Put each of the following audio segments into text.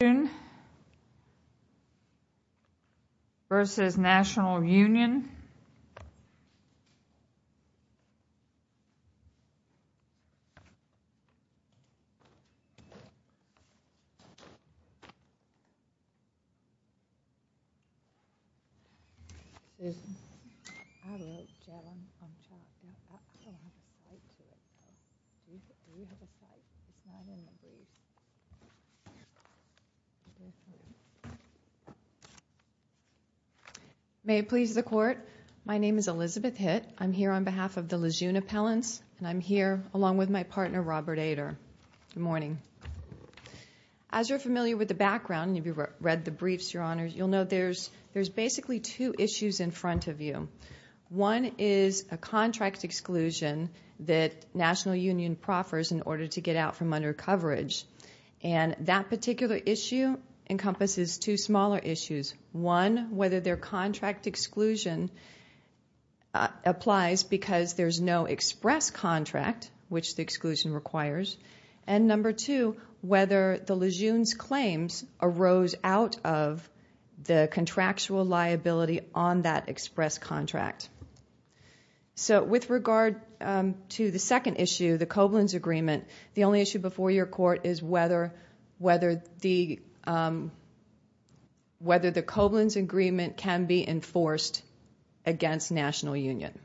Lejeune v. National Union May it please the Court, my name is Elizabeth Hitt. I'm here on behalf of the Lejeune Appellants, and I'm here along with my partner, Robert Ader. Good morning. As you're familiar with the background, you've read the briefs, Your Honors, you'll know there's basically two issues in front of you. One is a contract exclusion that National Union proffers in order to get out from undercoverage. And that particular issue encompasses two smaller issues. One, whether their contract exclusion applies because there's no express contract, which the exclusion requires. And number two, whether the Lejeune's claims arose out of the contractual liability on that express contract. So with regard to the second issue, the Koblenz Agreement, the only issue before your Court is whether the Koblenz Agreement can be enforced against National Union.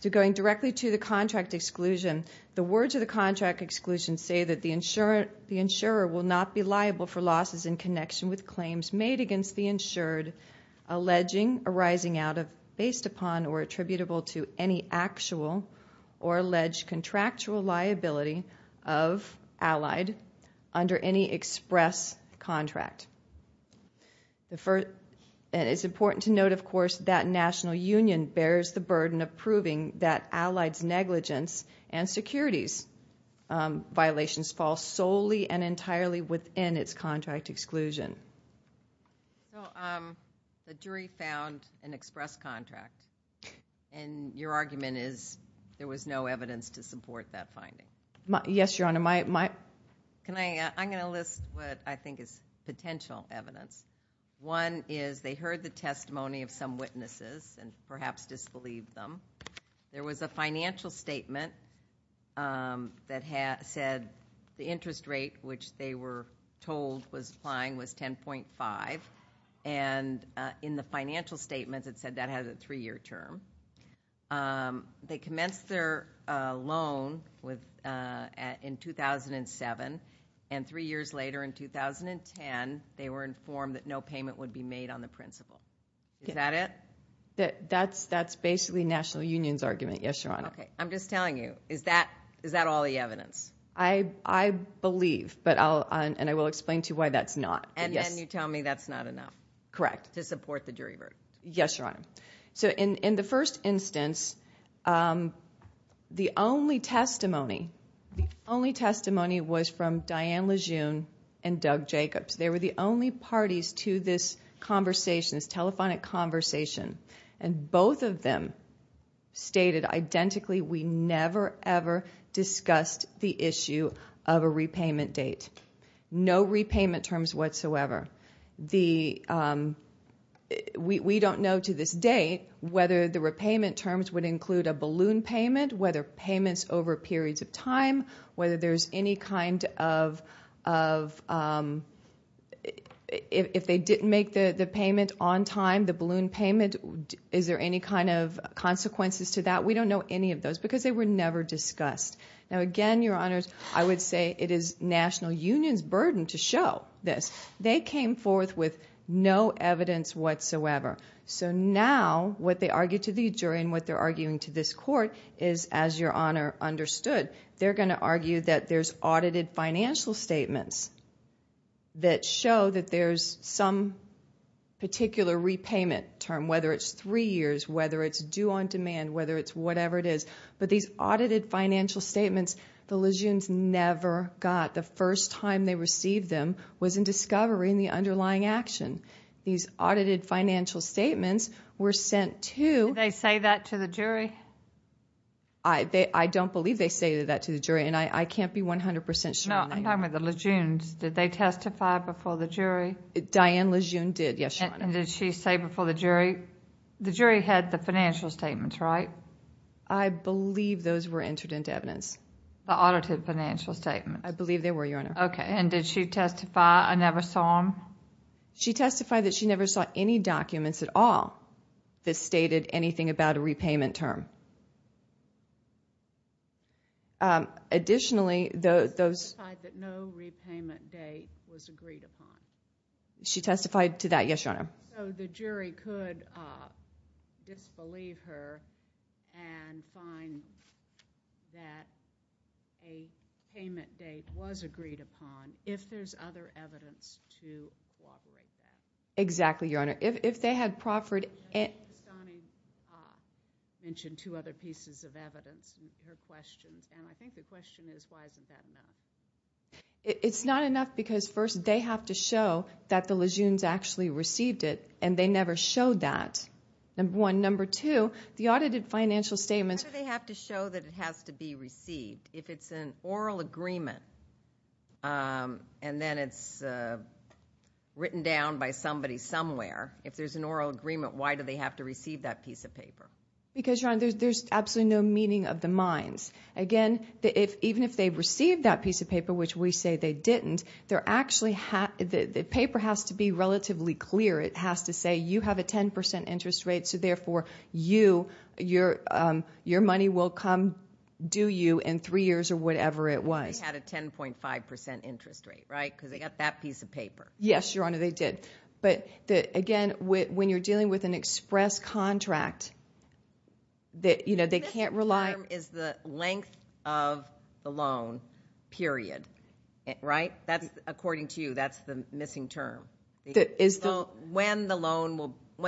So going directly to the contract exclusion, the words of the contract exclusion say that the insurer will not be liable for losses in connection with claims made against the insured, alleging arising out of, based upon, or attributable to any actual or alleged contractual liability of allied under any express contract. It's important to note, of course, that National Union bears the burden of proving that allied's negligence and securities violations fall solely and entirely within its contract exclusion. So the jury found an express contract, and your argument is there was no evidence to support that finding? Yes, Your Honor. I'm going to list what I think is potential evidence. One is they heard the testimony of some witnesses and perhaps disbelieved them. There was a financial statement that said the interest rate, which they were told was applying, was 10.5. And in the financial statement, it said that had a three-year term. They commenced their loan in 2007, and three years later, in 2010, they were informed that no payment would be made on the principal. Is that it? That's basically National Union's argument, yes, Your Honor. Okay. I'm just telling you. Is that all the evidence? I believe, and I will explain to you why that's not. And then you tell me that's not enough? Correct. To support the jury verdict? Yes, Your Honor. So in the first instance, the only testimony was from Diane Lejeune and Doug Jacobs. They were the only parties to this conversation, this telephonic conversation, and both of them stated identically we never, ever discussed the issue of a repayment date, no repayment terms whatsoever. We don't know to this date whether the repayment terms would include a balloon payment, whether payments over periods of time, whether there's any kind of, if they didn't make the payment on time, the balloon payment, is there any kind of consequences to that? We don't know any of those because they were never discussed. Now, again, Your Honors, I would say it is National Union's burden to show this. They came forth with no evidence whatsoever. So now what they argue to the jury and what they're arguing to this court is, as Your Honor understood, they're going to argue that there's audited financial statements that show that there's some particular repayment term, whether it's three years, whether it's due on demand, whether it's whatever it is. But these audited financial statements, the Lejeunes never got. The first time they received them was in discovery in the underlying action. These audited financial statements were sent to the jury. Did they say that to the jury? I don't believe they stated that to the jury, and I can't be 100% sure. No, I'm talking about the Lejeunes. Did they testify before the jury? Diane Lejeune did, yes, Your Honor. And did she say before the jury? The jury had the financial statements, right? I believe those were entered into evidence. The audited financial statements. I believe they were, Your Honor. Okay, and did she testify, I never saw them? She testified that she never saw any documents at all that stated anything about a repayment term. Additionally, those – She testified that no repayment date was agreed upon. She testified to that, yes, Your Honor. So the jury could disbelieve her and find that a payment date was agreed upon, if there's other evidence to corroborate that. Exactly, Your Honor. If they had proffered – Ms. Donahue mentioned two other pieces of evidence in her questions, and I think the question is why isn't that enough? It's not enough because, first, they have to show that the Lejeunes actually received it, and they never showed that, number one. Number two, the audited financial statements – Why do they have to show that it has to be received? If it's an oral agreement and then it's written down by somebody somewhere, if there's an oral agreement, why do they have to receive that piece of paper? Because, Your Honor, there's absolutely no meaning of the mines. Again, even if they received that piece of paper, which we say they didn't, the paper has to be relatively clear. It has to say you have a 10 percent interest rate, so therefore your money will come due you in three years or whatever it was. They had a 10.5 percent interest rate, right, because they got that piece of paper. Yes, Your Honor, they did. But, again, when you're dealing with an express contract, they can't rely – The term is the length of the loan, period, right? According to you, that's the missing term. When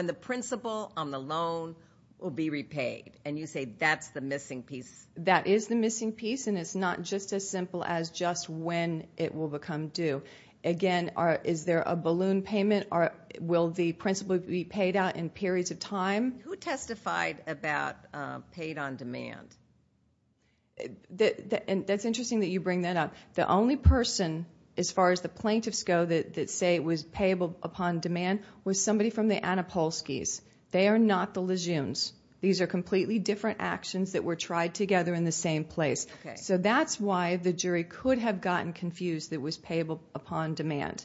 the principal on the loan will be repaid, and you say that's the missing piece. That is the missing piece, and it's not just as simple as just when it will become due. Again, is there a balloon payment? Will the principal be paid out in periods of time? Who testified about paid on demand? That's interesting that you bring that up. The only person, as far as the plaintiffs go, that say it was payable upon demand was somebody from the Anapolskys. They are not the Lejeunes. These are completely different actions that were tried together in the same place. So that's why the jury could have gotten confused that it was payable upon demand,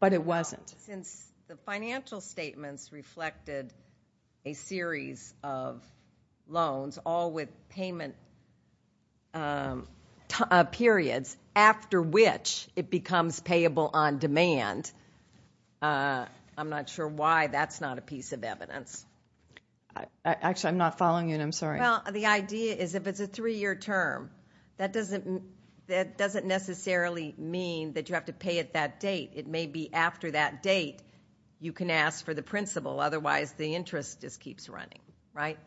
but it wasn't. Since the financial statements reflected a series of loans, all with payment periods after which it becomes payable on demand, I'm not sure why that's not a piece of evidence. Actually, I'm not following you, and I'm sorry. Well, the idea is if it's a three-year term, that doesn't necessarily mean that you have to pay it that date. It may be after that date you can ask for the principal, otherwise the interest just keeps running, right?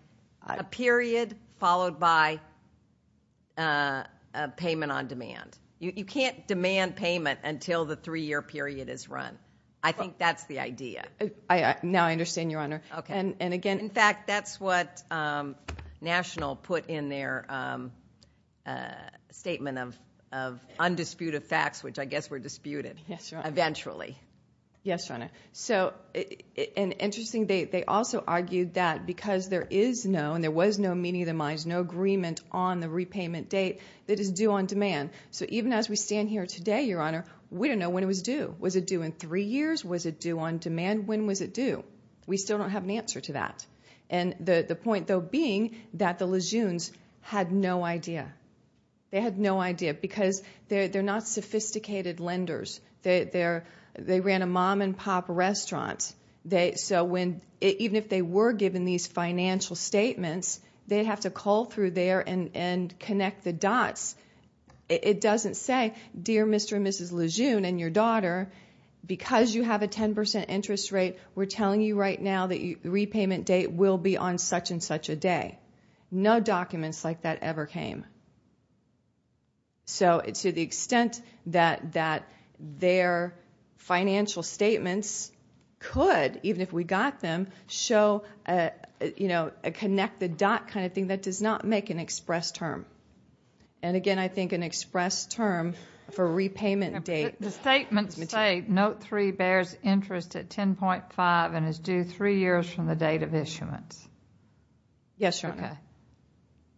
A period followed by a payment on demand. You can't demand payment until the three-year period is run. I think that's the idea. Now I understand, Your Honor. In fact, that's what National put in their statement of undisputed facts, which I guess were disputed eventually. Yes, Your Honor. So an interesting date. They also argued that because there is no, and there was no meeting of the minds, no agreement on the repayment date, that it's due on demand. So even as we stand here today, Your Honor, we don't know when it was due. Was it due in three years? Was it due on demand? When was it due? We still don't have an answer to that. And the point, though, being that the Lejeunes had no idea. They had no idea because they're not sophisticated lenders. They ran a mom-and-pop restaurant. So even if they were given these financial statements, they'd have to call through there and connect the dots. It doesn't say, Dear Mr. and Mrs. Lejeune and your daughter, because you have a 10% interest rate, we're telling you right now that the repayment date will be on such and such a day. No documents like that ever came. So to the extent that their financial statements could, even if we got them, show a connect-the-dot kind of thing, that does not make an express term. And, again, I think an express term for repayment date is material. The statements say Note 3 bears interest at 10.5 and is due three years from the date of issuance. Yes, Your Honor. Okay.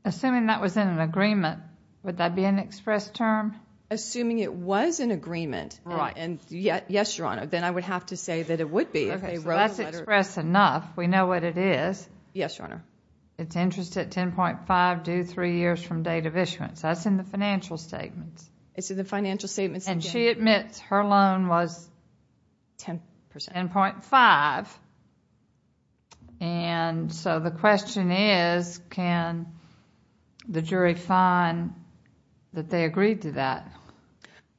Assuming that was in an agreement, would that be an express term? Assuming it was an agreement, and yes, Your Honor, then I would have to say that it would be if they wrote a letter. Okay, so that's express enough. We know what it is. Yes, Your Honor. It's interest at 10.5 due three years from date of issuance. That's in the financial statements. It's in the financial statements. And she admits her loan was 10.5. And so the question is, can the jury find that they agreed to that?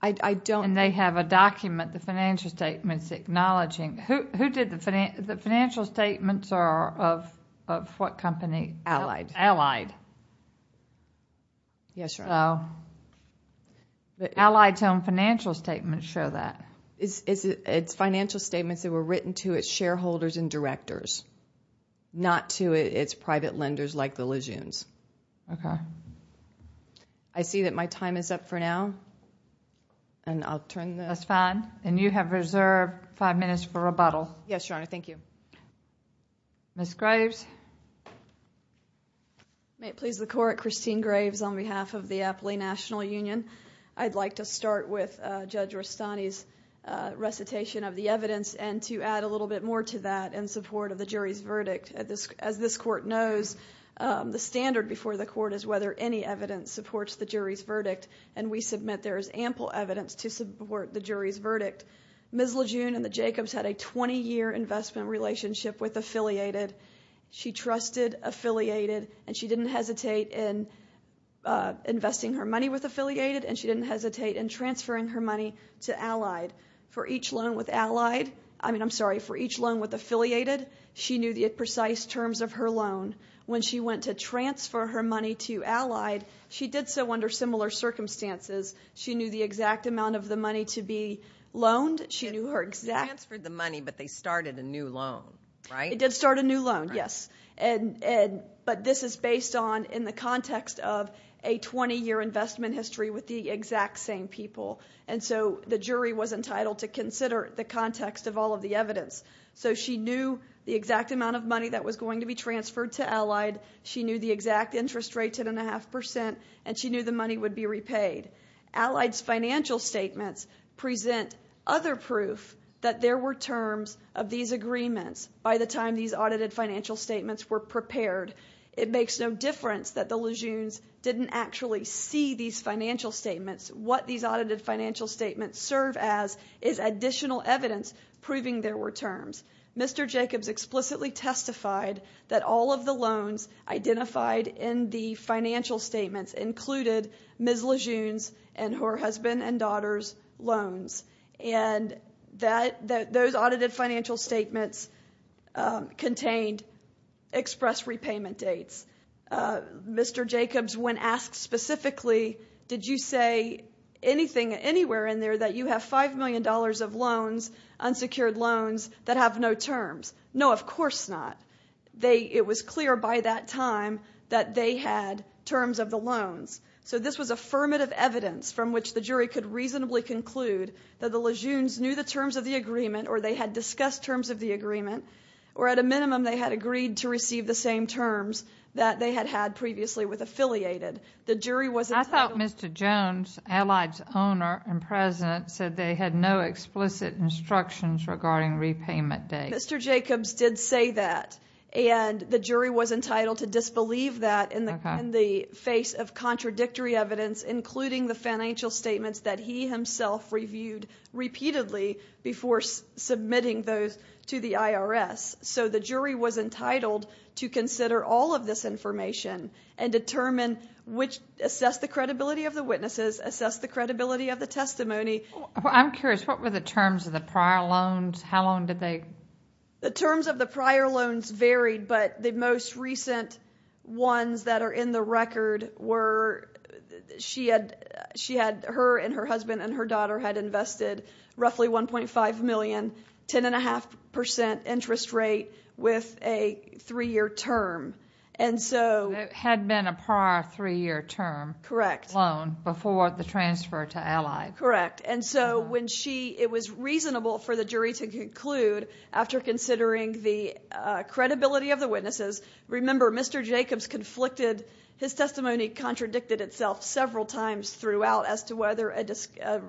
I don't. And they have a document, the financial statements, acknowledging. Who did the financial statements are of what company? Allied. Allied. Yes, Your Honor. So the Allied's own financial statements show that. It's financial statements that were written to its shareholders and directors, not to its private lenders like the Lejeunes. Okay. I see that my time is up for now, and I'll turn this. That's fine. And you have reserved five minutes for rebuttal. Yes, Your Honor. Thank you. Ms. Graves. May it please the Court, Christine Graves on behalf of the Appley National Union. I'd like to start with Judge Rustani's recitation of the evidence and to add a little bit more to that in support of the jury's verdict. As this Court knows, the standard before the Court is whether any evidence supports the jury's verdict. And we submit there is ample evidence to support the jury's verdict. Ms. Lejeune and the Jacobs had a 20-year investment relationship with Affiliated. She trusted Affiliated, and she didn't hesitate in investing her money with Affiliated, and she didn't hesitate in transferring her money to Allied. For each loan with Allied, I mean, I'm sorry, for each loan with Affiliated, she knew the precise terms of her loan. When she went to transfer her money to Allied, she did so under similar circumstances. She knew the exact amount of the money to be loaned. She knew her exact. She transferred the money, but they started a new loan, right? They did start a new loan, yes. But this is based on in the context of a 20-year investment history with the exact same people. And so the jury was entitled to consider the context of all of the evidence. So she knew the exact amount of money that was going to be transferred to Allied. She knew the exact interest rate, 10.5%, and she knew the money would be repaid. Allied's financial statements present other proof that there were terms of these agreements by the time these audited financial statements were prepared. It makes no difference that the Lejeunes didn't actually see these financial statements. What these audited financial statements serve as is additional evidence proving there were terms. Mr. Jacobs explicitly testified that all of the loans identified in the financial statements included Ms. Lejeunes and her husband and daughter's loans. And those audited financial statements contained express repayment dates. Mr. Jacobs, when asked specifically, did you say anywhere in there that you have $5 million of unsecured loans that have no terms? No, of course not. It was clear by that time that they had terms of the loans. So this was affirmative evidence from which the jury could reasonably conclude that the Lejeunes knew the terms of the agreement or they had discussed terms of the agreement or at a minimum they had agreed to receive the same terms that they had had previously with affiliated. I thought Mr. Jones, Allied's owner and president, said they had no explicit instructions regarding repayment dates. Mr. Jacobs did say that, and the jury was entitled to disbelieve that in the face of contradictory evidence, including the financial statements that he himself reviewed repeatedly before submitting those to the IRS. So the jury was entitled to consider all of this information and determine which assessed the credibility of the witnesses, assessed the credibility of the testimony. I'm curious. What were the terms of the prior loans? How long did they? The terms of the prior loans varied, but the most recent ones that are in the record were she had her and her husband and her daughter had invested roughly $1.5 million, 10.5 percent interest rate with a three-year term. It had been a prior three-year term loan before the transfer to Allied. Correct. It was reasonable for the jury to conclude after considering the credibility of the witnesses. Remember, Mr. Jacobs' testimony contradicted itself several times throughout as to whether an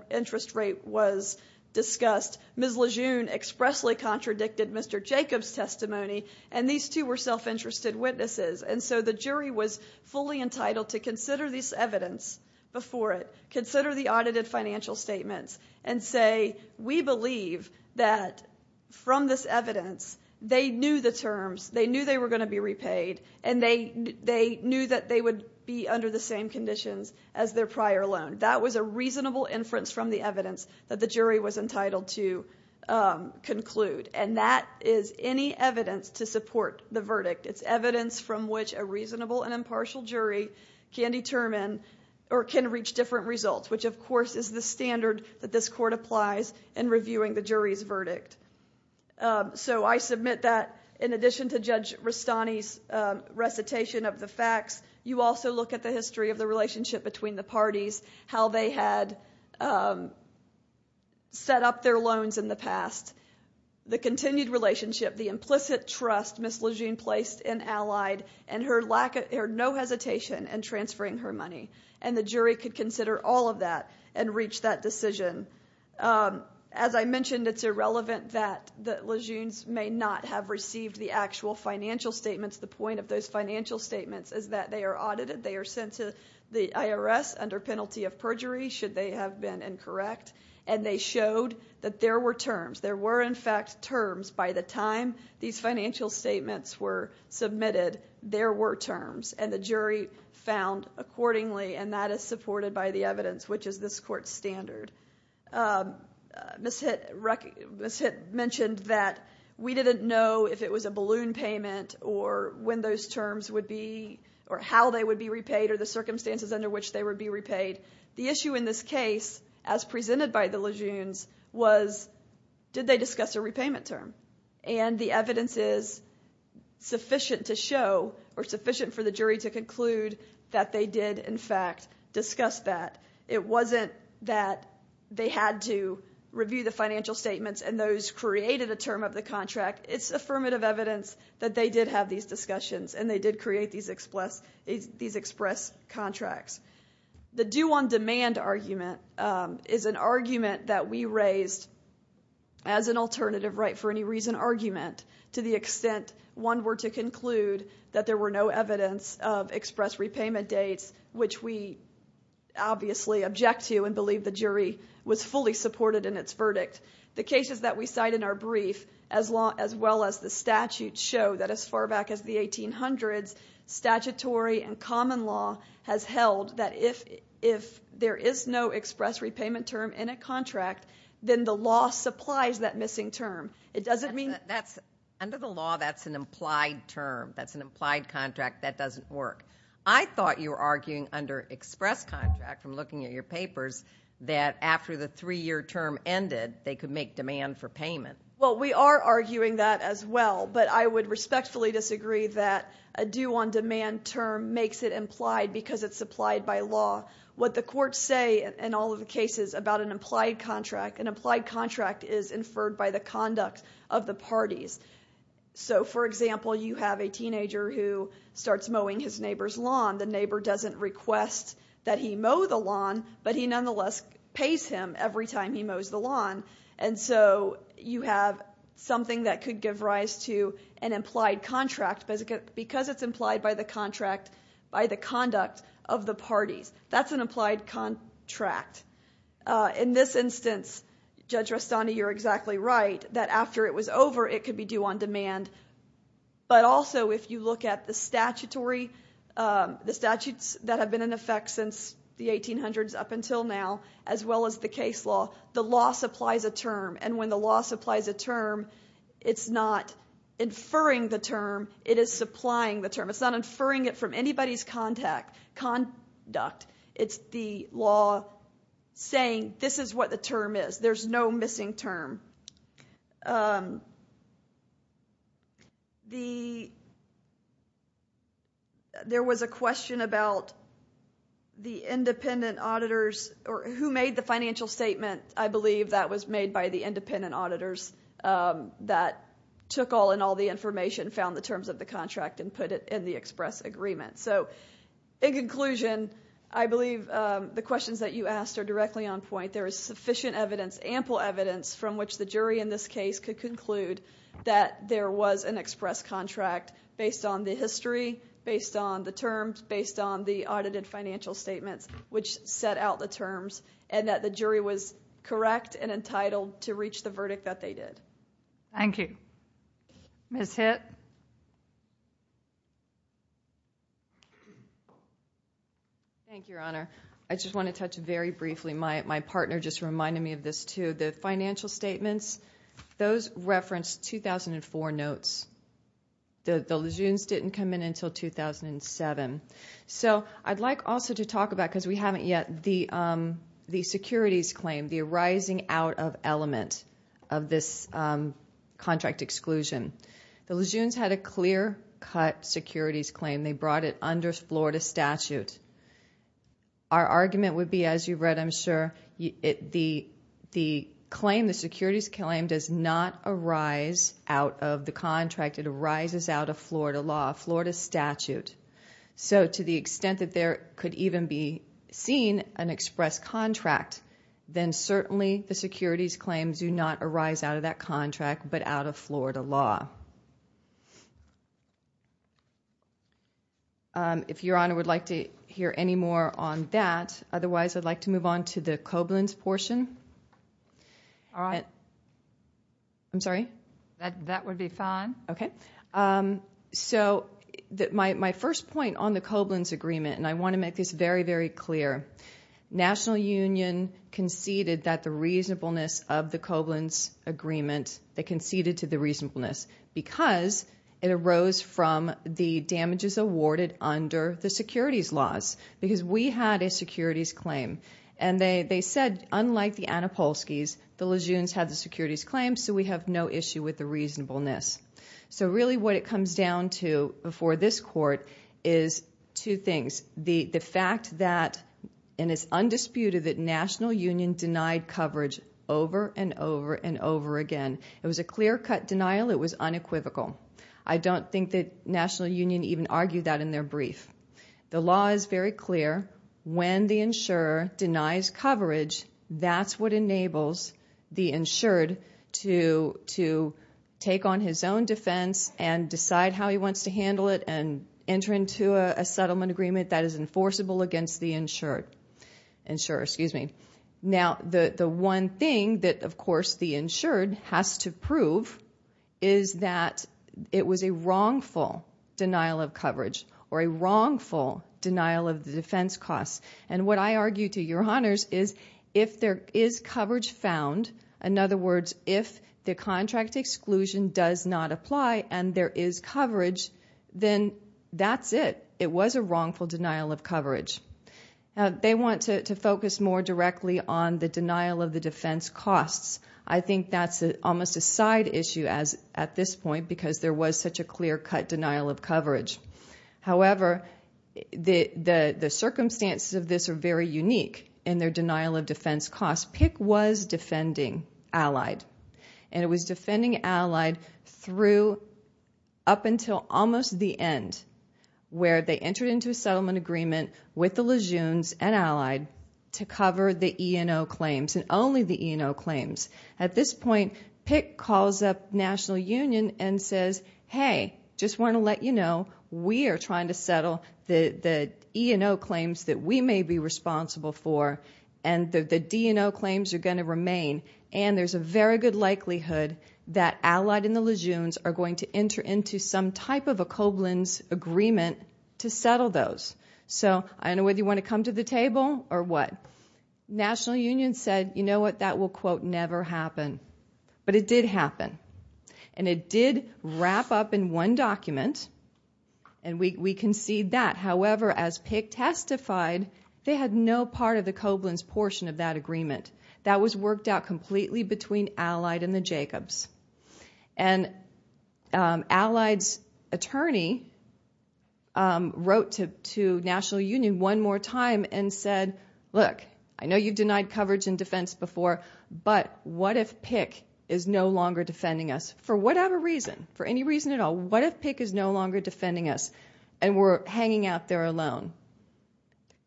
interest rate was discussed. Ms. Lejeune expressly contradicted Mr. Jacobs' testimony, and these two were self-interested witnesses. And so the jury was fully entitled to consider this evidence before it, consider the audited financial statements, and say, we believe that from this evidence they knew the terms, they knew they were going to be repaid, and they knew that they would be under the same conditions as their prior loan. That was a reasonable inference from the evidence that the jury was entitled to conclude, It's evidence from which a reasonable and impartial jury can determine or can reach different results, which, of course, is the standard that this court applies in reviewing the jury's verdict. So I submit that in addition to Judge Rastani's recitation of the facts, you also look at the history of the relationship between the parties, how they had set up their loans in the past, the continued relationship, the implicit trust Ms. Lejeune placed in Allied, and her no hesitation in transferring her money. And the jury could consider all of that and reach that decision. As I mentioned, it's irrelevant that Lejeune's may not have received the actual financial statements. The point of those financial statements is that they are audited, they are sent to the IRS under penalty of perjury should they have been incorrect, and they showed that there were terms. There were, in fact, terms by the time these financial statements were submitted. There were terms, and the jury found accordingly, and that is supported by the evidence, which is this court's standard. Ms. Hitt mentioned that we didn't know if it was a balloon payment or when those terms would be or how they would be repaid or the circumstances under which they would be repaid. The issue in this case, as presented by the Lejeunes, was did they discuss a repayment term? And the evidence is sufficient to show or sufficient for the jury to conclude that they did, in fact, discuss that. It wasn't that they had to review the financial statements and those created a term of the contract. It's affirmative evidence that they did have these discussions and they did create these express contracts. The due-on-demand argument is an argument that we raised as an alternative right-for-any-reason argument to the extent one were to conclude that there were no evidence of express repayment dates, which we obviously object to and believe the jury was fully supported in its verdict. The cases that we cite in our brief, as well as the statute, show that as far back as the 1800s, statutory and common law has held that if there is no express repayment term in a contract, then the law supplies that missing term. It doesn't mean that's under the law, that's an implied term, that's an implied contract, that doesn't work. I thought you were arguing under express contract, from looking at your papers, that after the three-year term ended, they could make demand for payment. Well, we are arguing that as well, but I would respectfully disagree that a due-on-demand term makes it implied because it's supplied by law. What the courts say in all of the cases about an implied contract, an implied contract is inferred by the conduct of the parties. So, for example, you have a teenager who starts mowing his neighbor's lawn. The neighbor doesn't request that he mow the lawn, but he nonetheless pays him every time he mows the lawn. And so you have something that could give rise to an implied contract, because it's implied by the contract, by the conduct of the parties. That's an implied contract. In this instance, Judge Rastani, you're exactly right, that after it was over, it could be due-on-demand. But also, if you look at the statutory, the statutes that have been in effect since the 1800s up until now, as well as the case law, the law supplies a term. And when the law supplies a term, it's not inferring the term. It is supplying the term. It's not inferring it from anybody's conduct. It's the law saying this is what the term is. There's no missing term. There was a question about the independent auditors or who made the financial statement. I believe that was made by the independent auditors that took all in all the information, found the terms of the contract, and put it in the express agreement. So, in conclusion, I believe the questions that you asked are directly on point. There is sufficient evidence, ample evidence, from which the jury in this case could conclude that there was an express contract based on the history, based on the terms, based on the audited financial statements, which set out the terms, and that the jury was correct and entitled to reach the verdict that they did. Thank you. Ms. Hitt. Thank you, Your Honor. I just want to touch very briefly. My partner just reminded me of this, too. The financial statements, those referenced 2004 notes. The lejeunes didn't come in until 2007. So I'd like also to talk about, because we haven't yet, the securities claim, the arising out of element of this contract exclusion. The lejeunes had a clear-cut securities claim. They brought it under Florida statute. Our argument would be, as you've read, I'm sure, the claim, the securities claim does not arise out of the contract. It arises out of Florida law, Florida statute. So to the extent that there could even be seen an express contract, then certainly the securities claims do not arise out of that contract, but out of Florida law. If Your Honor would like to hear any more on that, otherwise I'd like to move on to the Koblins portion. All right. I'm sorry? That would be fine. Okay. So my first point on the Koblins agreement, and I want to make this very, very clear. National Union conceded that the reasonableness of the Koblins agreement, they conceded to the reasonableness, because it arose from the damages awarded under the securities laws, because we had a securities claim. And they said, unlike the Anapolskys, the lejeunes had the securities claim, so we have no issue with the reasonableness. So really what it comes down to before this court is two things. One is the fact that, and it's undisputed, that National Union denied coverage over and over and over again. It was a clear-cut denial. It was unequivocal. I don't think that National Union even argued that in their brief. The law is very clear. When the insurer denies coverage, that's what enables the insured to take on his own defense and decide how he wants to handle it and enter into a settlement agreement that is enforceable against the insured. Now, the one thing that, of course, the insured has to prove is that it was a wrongful denial of coverage or a wrongful denial of the defense costs. And what I argue to your honors is if there is coverage found, in other words, if the contract exclusion does not apply and there is coverage, then that's it. It was a wrongful denial of coverage. They want to focus more directly on the denial of the defense costs. I think that's almost a side issue at this point because there was such a clear-cut denial of coverage. However, the circumstances of this are very unique in their denial of defense costs. PICC was defending Allied, and it was defending Allied up until almost the end where they entered into a settlement agreement with the Lejeunes and Allied to cover the E&O claims and only the E&O claims. At this point, PICC calls up National Union and says, Hey, just want to let you know we are trying to settle the E&O claims that we may be responsible for, and the D&O claims are going to remain. And there's a very good likelihood that Allied and the Lejeunes are going to enter into some type of a Koblenz agreement to settle those. So I don't know whether you want to come to the table or what. National Union said, You know what, that will, quote, never happen. But it did happen. And it did wrap up in one document, and we concede that. However, as PICC testified, they had no part of the Koblenz portion of that agreement. That was worked out completely between Allied and the Jacobs. And Allied's attorney wrote to National Union one more time and said, Look, I know you've denied coverage and defense before, but what if PICC is no longer defending us? For whatever reason, for any reason at all, what if PICC is no longer defending us and we're hanging out there alone?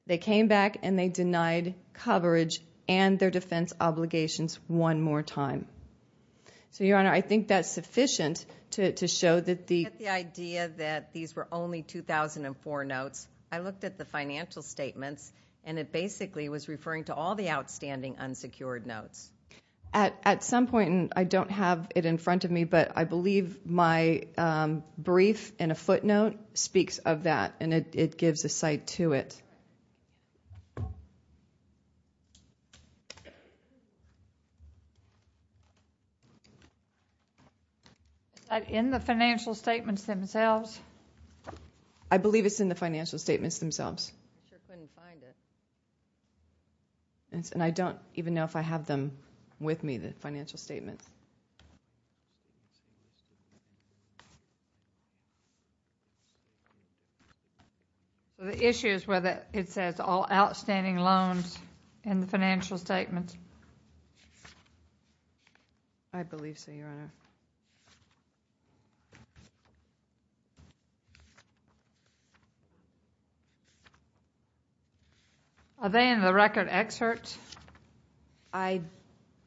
They came back and they denied coverage and their defense obligations one more time. So, Your Honor, I think that's sufficient to show that the idea that these were only 2004 notes. I looked at the financial statements, and it basically was referring to all the outstanding unsecured notes. At some point, and I don't have it in front of me, but I believe my brief in a footnote speaks of that, and it gives a site to it. Is that in the financial statements themselves? I believe it's in the financial statements themselves. I sure couldn't find it. And I don't even know if I have them with me, the financial statements. The issue is whether it says all outstanding loans in the financial statements. I believe so, Your Honor. Are they in the record excerpt? I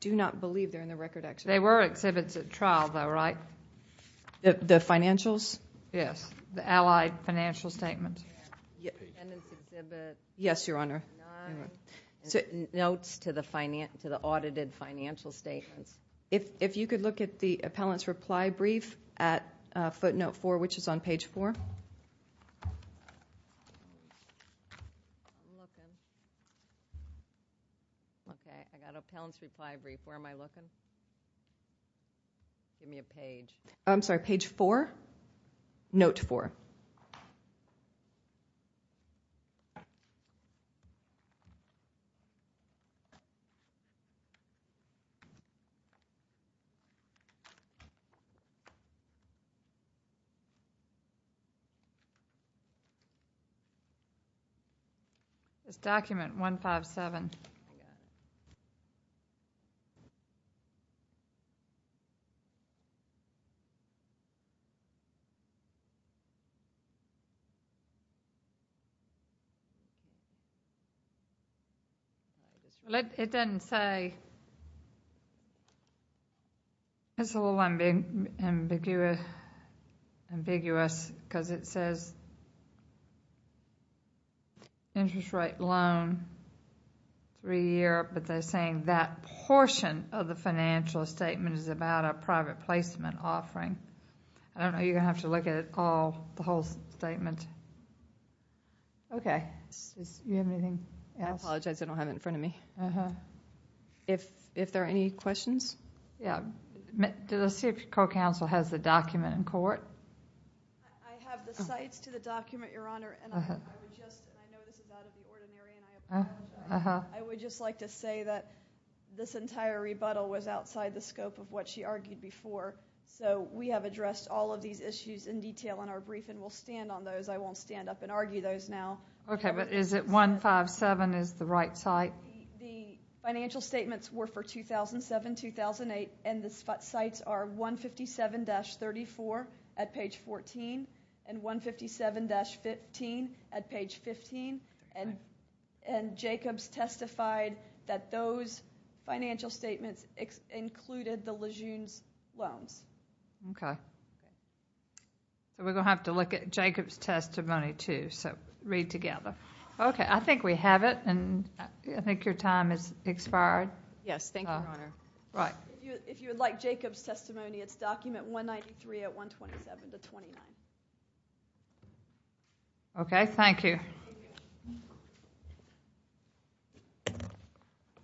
do not believe they're in the record excerpt. They were exhibits at trial, though, right? The financials? Yes, the allied financial statements. Yes, Your Honor. Notes to the audited financial statements. If you could look at the appellant's reply brief at footnote four, which is on page four. Okay, I got appellant's reply brief. Where am I looking? Give me a page. I'm sorry, page four? Note four. Page four. Okay. It doesn't say. It's a little ambiguous because it says interest rate loan, three-year, but they're saying that portion of the financial statement is about a private placement offering. I don't know. You're going to have to look at the whole statement. Okay. Do you have anything else? I apologize. I don't have it in front of me. If there are any questions? Yeah. Let's see if your co-counsel has the document in court. I have the cites to the document, Your Honor. I would just like to say that this entire rebuttal was outside the scope of what she argued before. So we have addressed all of these issues in detail in our brief, and we'll stand on those. I won't stand up and argue those now. Okay, but is it 157 is the right site? The financial statements were for 2007-2008, and the cites are 157-34 at page 14 and 157-15 at page 15. Jacob's testified that those financial statements included the Lejeune's loans. Okay. We're going to have to look at Jacob's testimony too, so read together. Okay. I think we have it, and I think your time has expired. Yes. Thank you, Your Honor. If you would like Jacob's testimony, it's document 193 at 127-29. Okay. Thank you.